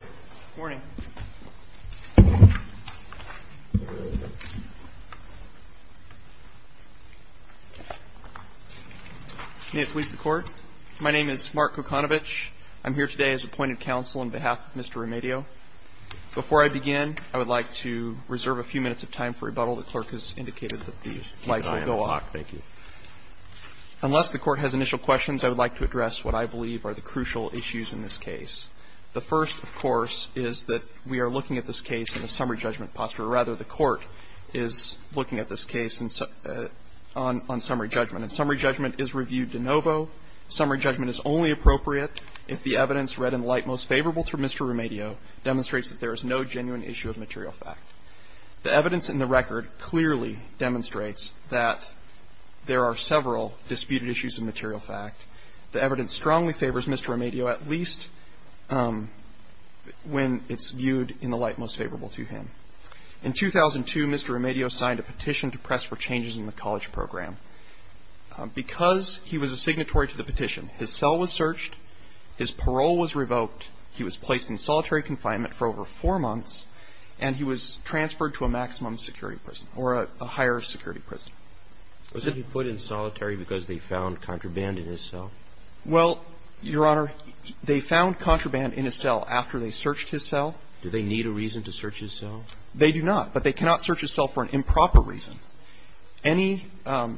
Good morning. May it please the court, my name is Mark Kokanovich. I'm here today as appointed counsel on behalf of Mr. Remedio. Before I begin, I would like to reserve a few minutes of time for rebuttal. The clerk has indicated that the lights will go off. Unless the court has initial questions, I would like to address what I believe are the facts. The evidence in the record, of course, is that we are looking at this case in a summary judgment posture. Rather, the court is looking at this case on summary judgment. And summary judgment is reviewed de novo. Summary judgment is only appropriate if the evidence read in light most favorable to Mr. Remedio demonstrates that there is no genuine issue of material fact. The evidence in the record clearly demonstrates that there are several disputed issues of material fact. The evidence strongly favors Mr. Remedio, at least when it's viewed in the light most favorable to him. In 2002, Mr. Remedio signed a petition to press for changes in the college program. Because he was a signatory to the petition, his cell was searched, his parole was revoked, he was placed in solitary confinement for over four months, and he was transferred to a maximum security prison or a higher security prison. Was he put in solitary because they found contraband in his cell? Well, Your Honor, they found contraband in his cell after they searched his cell. Do they need a reason to search his cell? They do not, but they cannot search his cell for an improper reason. Any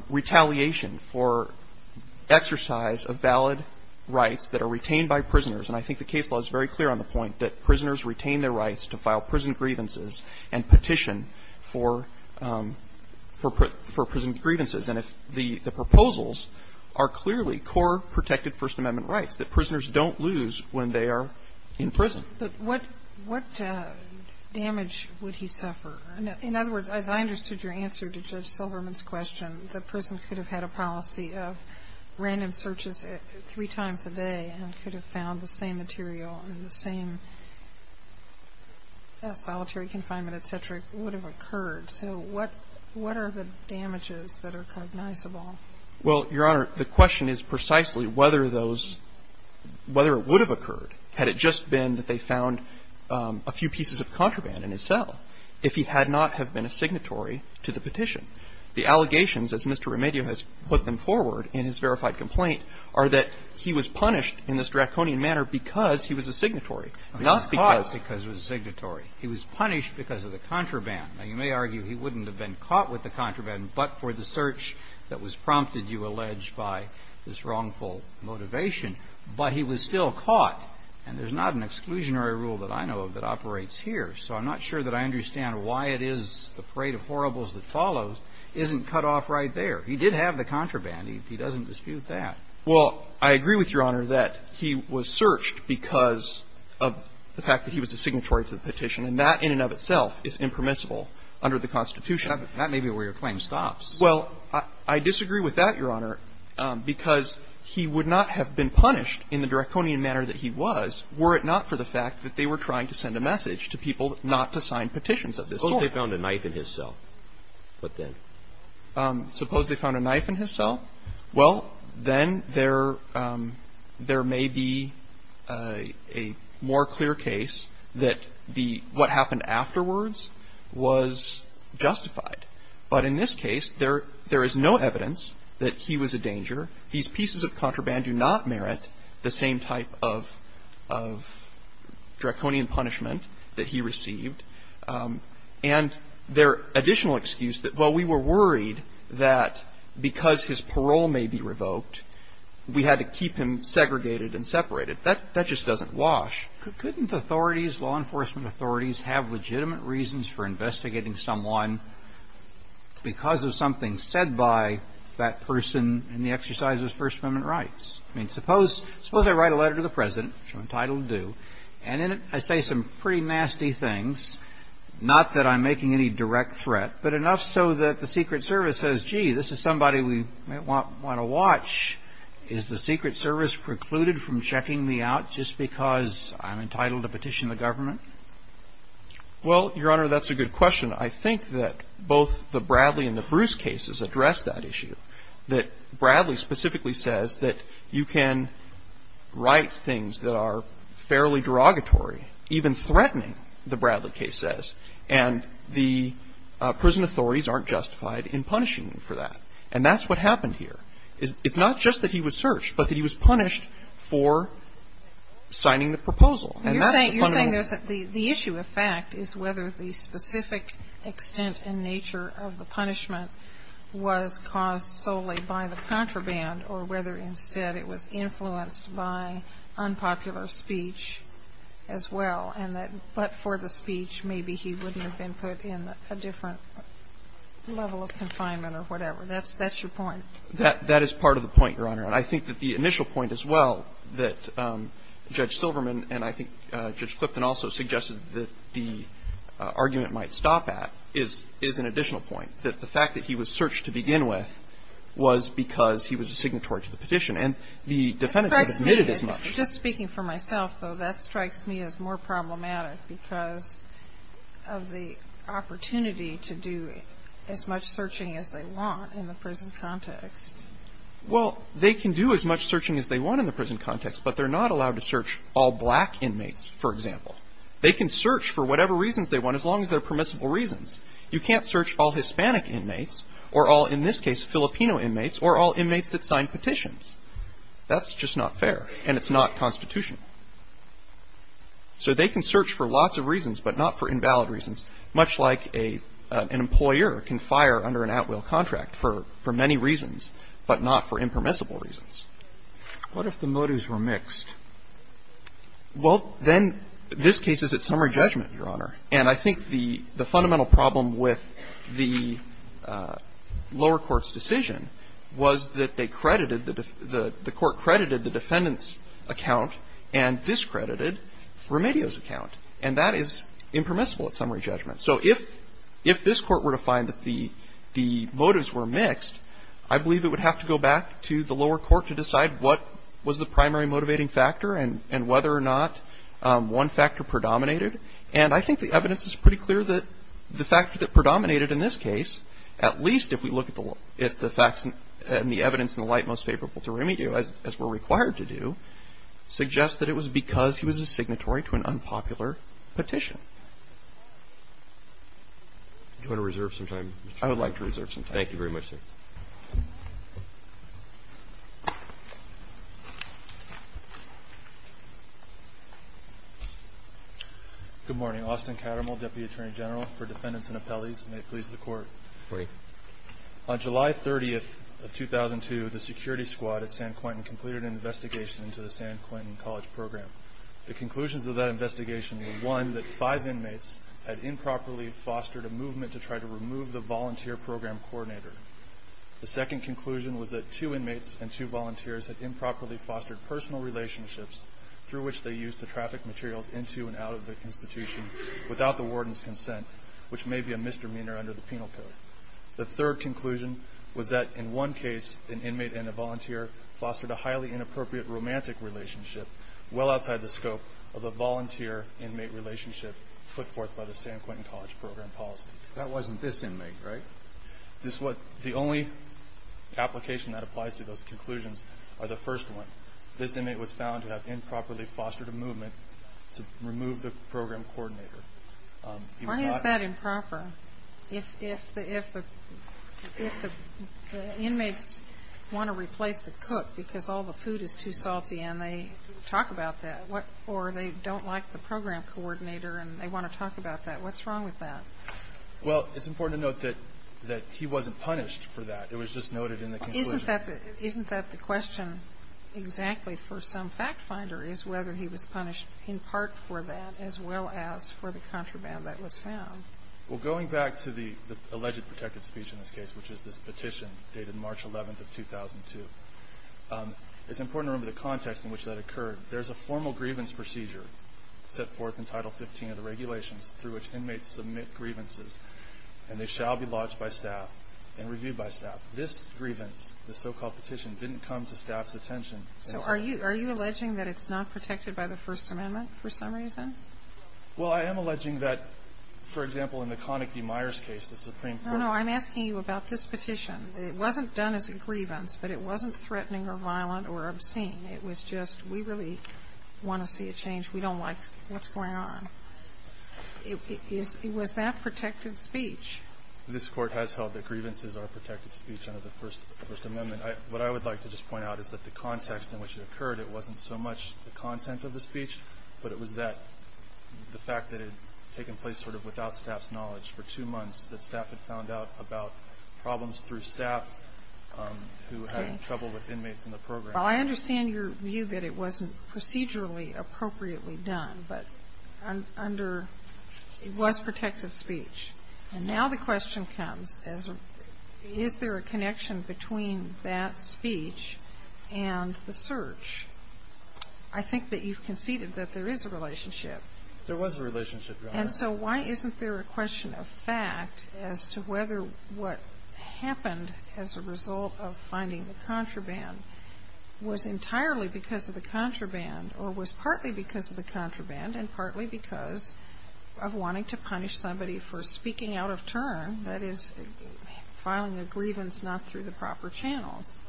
retaliation for exercise of valid rights that are retained by prisoners, and I think the case law is very clear on the point that prisoners retain their rights to file prison grievances and petition for prison grievances. And the proposals are clearly core protected First Amendment rights that prisoners don't lose when they are in prison. But what damage would he suffer? In other words, as I understood your answer to Judge Silverman's question, the prison could have had a policy of random searches three or four times. Yes. Solitary confinement, et cetera, would have occurred. So what are the damages that are cognizable? Well, Your Honor, the question is precisely whether those – whether it would have occurred had it just been that they found a few pieces of contraband in his cell if he had not have been a signatory to the petition. The allegations, as Mr. Remedio has put them forward in his verified complaint, are that he was punished in this draconian manner because he was a signatory, not because he was a signatory. He was punished because of the contraband. Now, you may argue he wouldn't have been caught with the contraband but for the search that was prompted, you allege, by this wrongful motivation. But he was still caught. And there's not an exclusionary rule that I know of that operates here. So I'm not sure that I understand why it is the parade of horribles that follows isn't cut off right there. He did have the contraband. He doesn't dispute that. Well, I agree with Your Honor that he was searched because of the fact that he was a signatory to the petition. And that in and of itself is impermissible under the Constitution. That may be where your claim stops. Well, I disagree with that, Your Honor, because he would not have been punished in the draconian manner that he was were it not for the fact that they were trying to send a message to people not to sign petitions of this sort. Suppose they found a knife in his cell. What then? There may be a more clear case that what happened afterwards was justified. But in this case, there is no evidence that he was a danger. These pieces of contraband do not merit the same type of draconian punishment that he received. And their additional excuse that, well, we were worried that because his parole may be revoked, we had to keep him segregated and separated, that just doesn't wash. Couldn't authorities, law enforcement authorities, have legitimate reasons for investigating someone because of something said by that person in the exercise of his First Amendment rights? I mean, suppose I write a letter to the President, which I'm entitled to do, and in it I say some pretty nasty things, not that I'm making any direct threat, but enough so that the Secret Service says, gee, this is somebody we might want to watch. Is the Secret Service precluded from checking me out just because I'm entitled to petition the government? Well, Your Honor, that's a good question. I think that both the Bradley and the Bruce cases address that issue, that Bradley specifically says that you can write things that are fairly derogatory, even threatening, the Bradley case says, and the prison authorities aren't justified in punishing him for that. And that's what happened here. It's not just that he was searched, but that he was punished for signing the proposal. And that's the fundamental ---- You're saying there's a ---- the issue of fact is whether the specific extent and nature of the punishment was caused solely by the contraband or whether it was influenced by unpopular speech as well, and that but for the speech maybe he wouldn't have been put in a different level of confinement or whatever. That's your point. That is part of the point, Your Honor. And I think that the initial point as well that Judge Silverman and I think Judge Clifton also suggested that the argument might stop at is an additional point, that the fact that he was searched to begin with was because he was a signatory to the petition. And the defendants have admitted as much. It strikes me, just speaking for myself, though, that strikes me as more problematic because of the opportunity to do as much searching as they want in the prison context. Well, they can do as much searching as they want in the prison context, but they're not allowed to search all black inmates, for example. They can search for whatever reasons they want as long as they're permissible reasons. You can't search all Hispanic inmates or all, in this case, Filipino inmates or all inmates that signed petitions. That's just not fair, and it's not constitutional. So they can search for lots of reasons but not for invalid reasons, much like an employer can fire under an at-will contract for many reasons but not for impermissible reasons. What if the motives were mixed? Well, then this case is at summary judgment, Your Honor. And I think the fundamental problem with the lower court's decision was that they credited the defendant's account and discredited Remedios' account, and that is impermissible at summary judgment. So if this Court were to find that the motives were mixed, I believe it would have to go back to the lower court to decide what was the primary motivating factor and whether or not one factor predominated. And I think the evidence is pretty clear that the factor that predominated in this case, at least if we look at the facts and the evidence in the light most favorable to Remedios, as we're required to do, suggests that it was because he was a signatory to an unpopular petition. Do you want to reserve some time, Mr. Chiu? I would like to reserve some time. Thank you very much, sir. Good morning. Austin Cattermull, Deputy Attorney General for Defendants and Appellees. May it please the Court. Great. On July 30th of 2002, the security squad at San Quentin completed an investigation into the San Quentin College Program. The conclusions of that investigation were, one, that five inmates had improperly The second conclusion was that two inmates and two volunteers had improperly fostered personal relationships through which they used to traffic materials into and out of the institution without the warden's consent, which may be a misdemeanor under the penal code. The third conclusion was that, in one case, an inmate and a volunteer fostered a highly inappropriate romantic relationship, well outside the scope of a volunteer-inmate relationship put forth by the San Quentin College Program policy. That wasn't this inmate, right? The only application that applies to those conclusions are the first one. This inmate was found to have improperly fostered a movement to remove the program coordinator. Why is that improper? If the inmates want to replace the cook because all the food is too salty and they talk about that, or they don't like the program coordinator and they want to talk about that, what's wrong with that? Well, it's important to note that he wasn't punished for that. It was just noted in the conclusion. Isn't that the question exactly for some fact-finder is whether he was punished in part for that as well as for the contraband that was found? Well, going back to the alleged protected speech in this case, which is this petition dated March 11th of 2002, it's important to remember the context in which that occurred. There's a formal grievance procedure set forth in Title 15 of the regulations through which inmates submit grievances, and they shall be lodged by staff and reviewed by staff. This grievance, the so-called petition, didn't come to staff's attention. So are you alleging that it's not protected by the First Amendment for some reason? Well, I am alleging that, for example, in the Connick v. Myers case, the Supreme Court ---- No, no. I'm asking you about this petition. It wasn't done as a grievance, but it wasn't threatening or violent or obscene. It was just, we really want to see a change. We don't like what's going on. It was that protected speech. This Court has held that grievances are protected speech under the First Amendment. What I would like to just point out is that the context in which it occurred, it wasn't so much the content of the speech, but it was that, the fact that it had taken place sort of without staff's knowledge for two months, that staff had found out about problems through staff who had trouble with inmates in the program. Well, I understand your view that it wasn't procedurally appropriately done, but under, it was protected speech. And now the question comes, is there a connection between that speech and the search? I think that you've conceded that there is a relationship. There was a relationship, Your Honor. And so why isn't there a question of fact as to whether what happened as a result of finding the contraband was entirely because of the contraband or was partly because of the contraband and partly because of wanting to punish somebody for speaking out of turn, that is, filing a grievance not through the proper channels?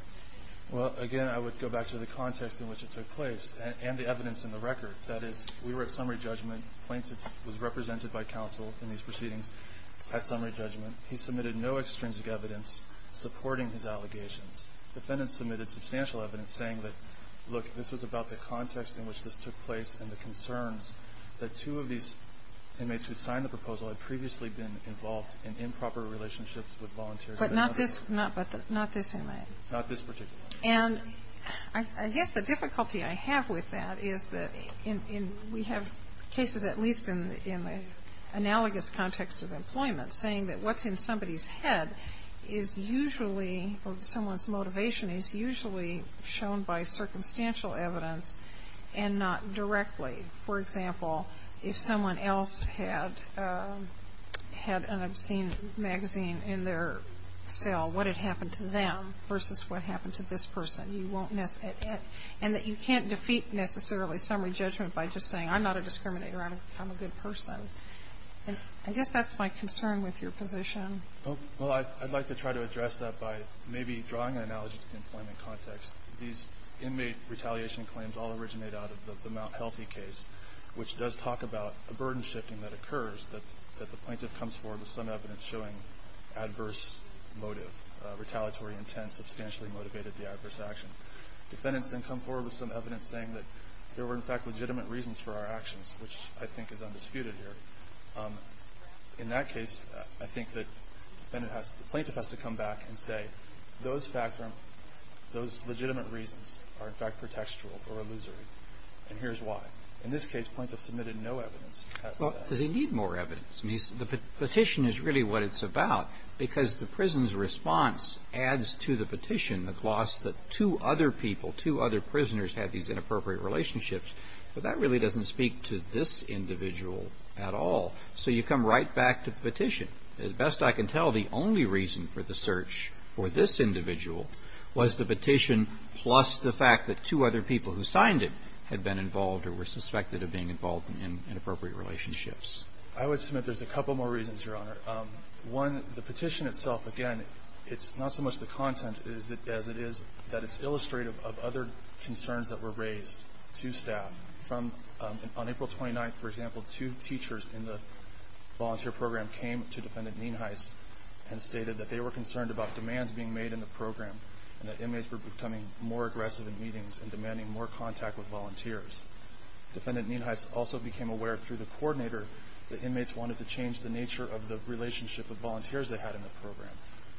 Well, again, I would go back to the context in which it took place and the evidence in the record. That is, we were at summary judgment. Plaintiff was represented by counsel in these proceedings at summary judgment. He submitted no extrinsic evidence supporting his allegations. Defendants submitted substantial evidence saying that, look, this was about the context in which this took place and the concerns that two of these inmates who had signed the proposal had previously been involved in improper relationships with volunteers. But not this, not this inmate. Not this particular one. And I guess the difficulty I have with that is that we have cases at least in the analogous context of employment saying that what's in somebody's head is usually or someone's motivation is usually shown by circumstantial evidence and not directly. For example, if someone else had an obscene magazine in their cell, what had happened to them versus what happened to this person? And that you can't defeat necessarily summary judgment by just saying I'm not a I guess that's my concern with your position. Well, I'd like to try to address that by maybe drawing an analogy to the employment context. These inmate retaliation claims all originate out of the Mount Healthy case, which does talk about a burden shifting that occurs that the plaintiff comes forward with some evidence showing adverse motive, retaliatory intent substantially motivated the adverse action. I think that the plaintiff has to come back and say those facts, those legitimate reasons are, in fact, pretextual or illusory, and here's why. In this case, plaintiff submitted no evidence. Well, does he need more evidence? The petition is really what it's about because the prison's response adds to the petition the gloss that two other people, two other prisoners had these inappropriate relationships, but that really doesn't speak to this individual at all. So you come right back to the petition. As best I can tell, the only reason for the search for this individual was the petition plus the fact that two other people who signed it had been involved or were suspected of being involved in inappropriate relationships. I would submit there's a couple more reasons, Your Honor. One, the petition itself, again, it's not so much the content as it is that it's illustrative of other concerns that were raised to staff. On April 29th, for example, two teachers in the volunteer program came to Defendant Nienhuis and stated that they were concerned about demands being made in the program and that inmates were becoming more aggressive in meetings and demanding more contact with volunteers. Defendant Nienhuis also became aware through the coordinator that inmates wanted to change the nature of the relationship of volunteers they had in the program.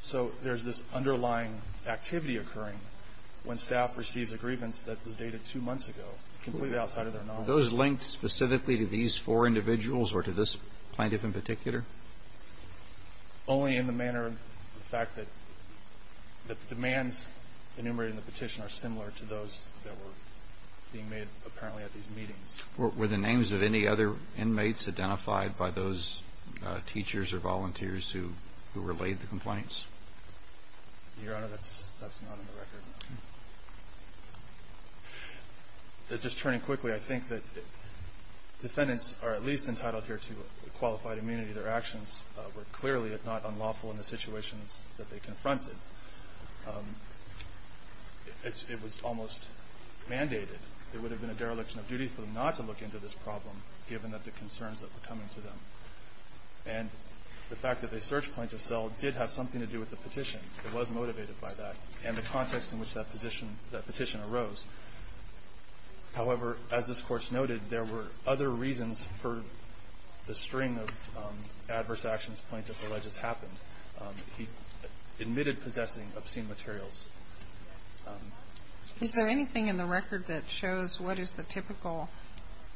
So there's this underlying activity occurring when staff receives a grievance that was dated two months ago, completely outside of their knowledge. Were those linked specifically to these four individuals or to this plaintiff in particular? Only in the manner of the fact that the demands enumerated in the petition are similar to those that were being made apparently at these meetings. Were the names of any other inmates identified by those teachers or volunteers who relayed the complaints? Your Honor, that's not on the record. Just turning quickly, I think that defendants are at least entitled here to qualified immunity. Their actions were clearly, if not unlawful, in the situations that they confronted. It was almost mandated. It would have been a dereliction of duty for them not to look into this problem given that the concerns that were coming to them. And the fact that they searched Plaintiff Zell did have something to do with the petition. It was motivated by that and the context in which that petition arose. However, as this Court's noted, there were other reasons for the string of adverse actions plaintiff alleged happened. He admitted possessing obscene materials. Is there anything in the record that shows what is the typical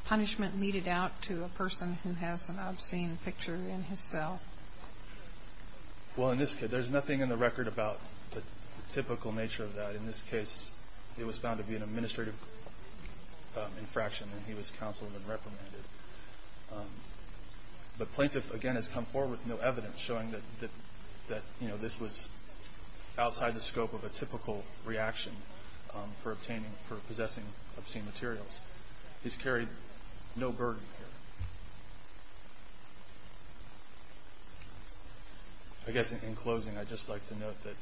punishment meted out to a person who has an obscene picture in his cell? Well, in this case, there's nothing in the record about the typical nature of that. In this case, it was found to be an administrative infraction and he was counseled and reprimanded. The plaintiff, again, has come forward with no evidence showing that this was a typical reaction for obtaining, for possessing obscene materials. He's carried no burden here. I guess in closing, I'd just like to note that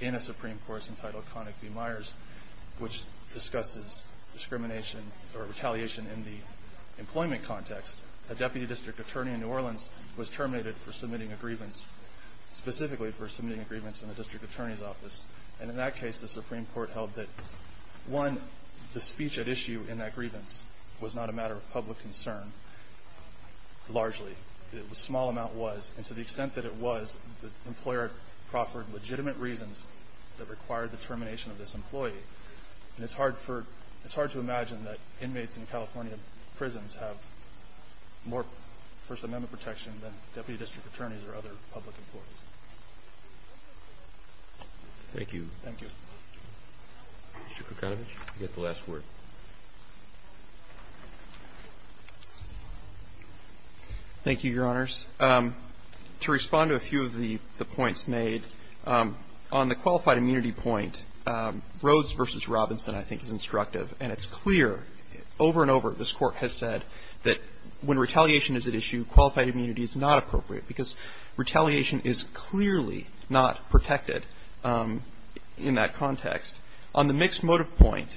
in a Supreme Court's entitled Connick v. Myers, which discusses discrimination or retaliation in the employment context, a Deputy District Attorney in New Orleans was terminated for submitting a grievance, specifically for submitting a grievance in the Deputy District Attorney's office. And in that case, the Supreme Court held that, one, the speech at issue in that grievance was not a matter of public concern, largely. The small amount was. And to the extent that it was, the employer proffered legitimate reasons that required the termination of this employee. And it's hard to imagine that inmates in California prisons have more First Amendment protection than Deputy District Attorneys or other public employees. Thank you. Thank you. Mr. Kucinich, you get the last word. Thank you, Your Honors. To respond to a few of the points made, on the qualified immunity point, Rhodes v. Robinson, I think, is instructive. And it's clear, over and over, this Court has said that when retaliation is at issue, qualified immunity is not appropriate, because retaliation is clearly not protected in that context. On the mixed motive point,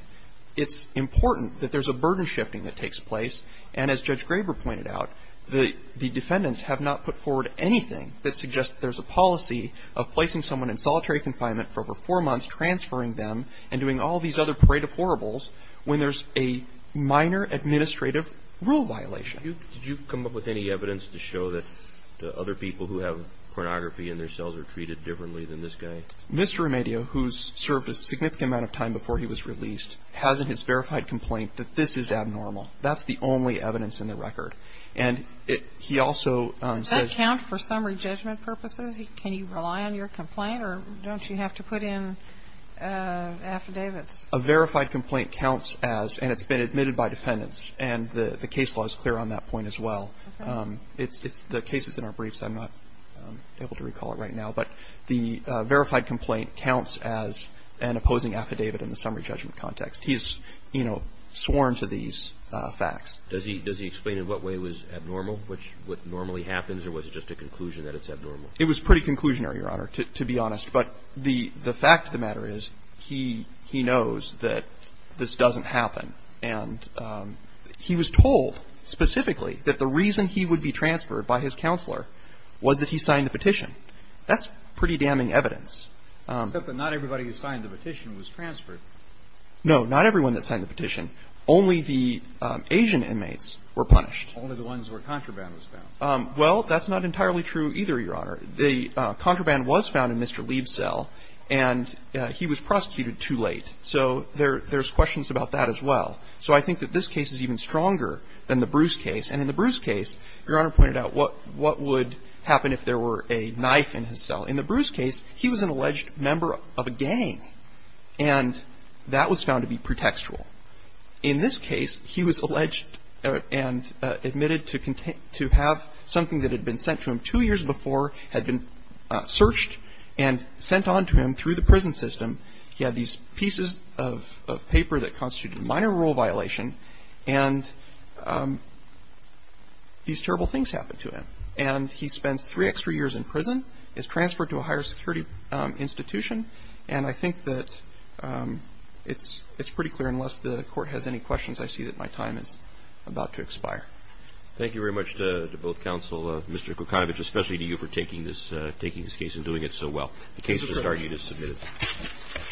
it's important that there's a burden shifting that takes place. And as Judge Graber pointed out, the defendants have not put forward anything that suggests there's a policy of placing someone in solitary confinement for over four months, transferring them, and doing all these other parade of horribles when there's a minor administrative rule violation. Did you come up with any evidence to show that other people who have pornography in their cells are treated differently than this guy? Mr. Remedio, who's served a significant amount of time before he was released, has in his verified complaint that this is abnormal. That's the only evidence in the record. And he also says – Does that count for summary judgment purposes? Can you rely on your complaint, or don't you have to put in affidavits? A verified complaint counts as, and it's been admitted by defendants, and the case law is clear on that point as well. It's the cases in our briefs. I'm not able to recall it right now. But the verified complaint counts as an opposing affidavit in the summary judgment context. He's sworn to these facts. Does he explain in what way it was abnormal, what normally happens, or was it just a conclusion that it's abnormal? It was pretty conclusionary, Your Honor, to be honest. But the fact of the matter is he knows that this doesn't happen. And he was told specifically that the reason he would be transferred by his counselor was that he signed the petition. That's pretty damning evidence. Except that not everybody who signed the petition was transferred. No, not everyone that signed the petition. Only the Asian inmates were punished. Only the ones where contraband was found. Well, that's not entirely true either, Your Honor. The contraband was found in Mr. Leib's cell, and he was prosecuted too late. So there's questions about that as well. So I think that this case is even stronger than the Bruce case. And in the Bruce case, Your Honor pointed out what would happen if there were a knife in his cell. In the Bruce case, he was an alleged member of a gang, and that was found to be pretextual. In this case, he was alleged and admitted to have something that had been sent to him two years before, had been searched and sent on to him through the prison system. He had these pieces of paper that constituted a minor rule violation, and these terrible things happened to him. And he spends three extra years in prison, is transferred to a higher security institution, and I think that it's pretty clear, unless the Court has any questions, I see that my time is about to expire. Thank you very much to both counsel, Mr. Kucinich, especially to you for taking this case and doing it so well. The case is adjourned. It is submitted.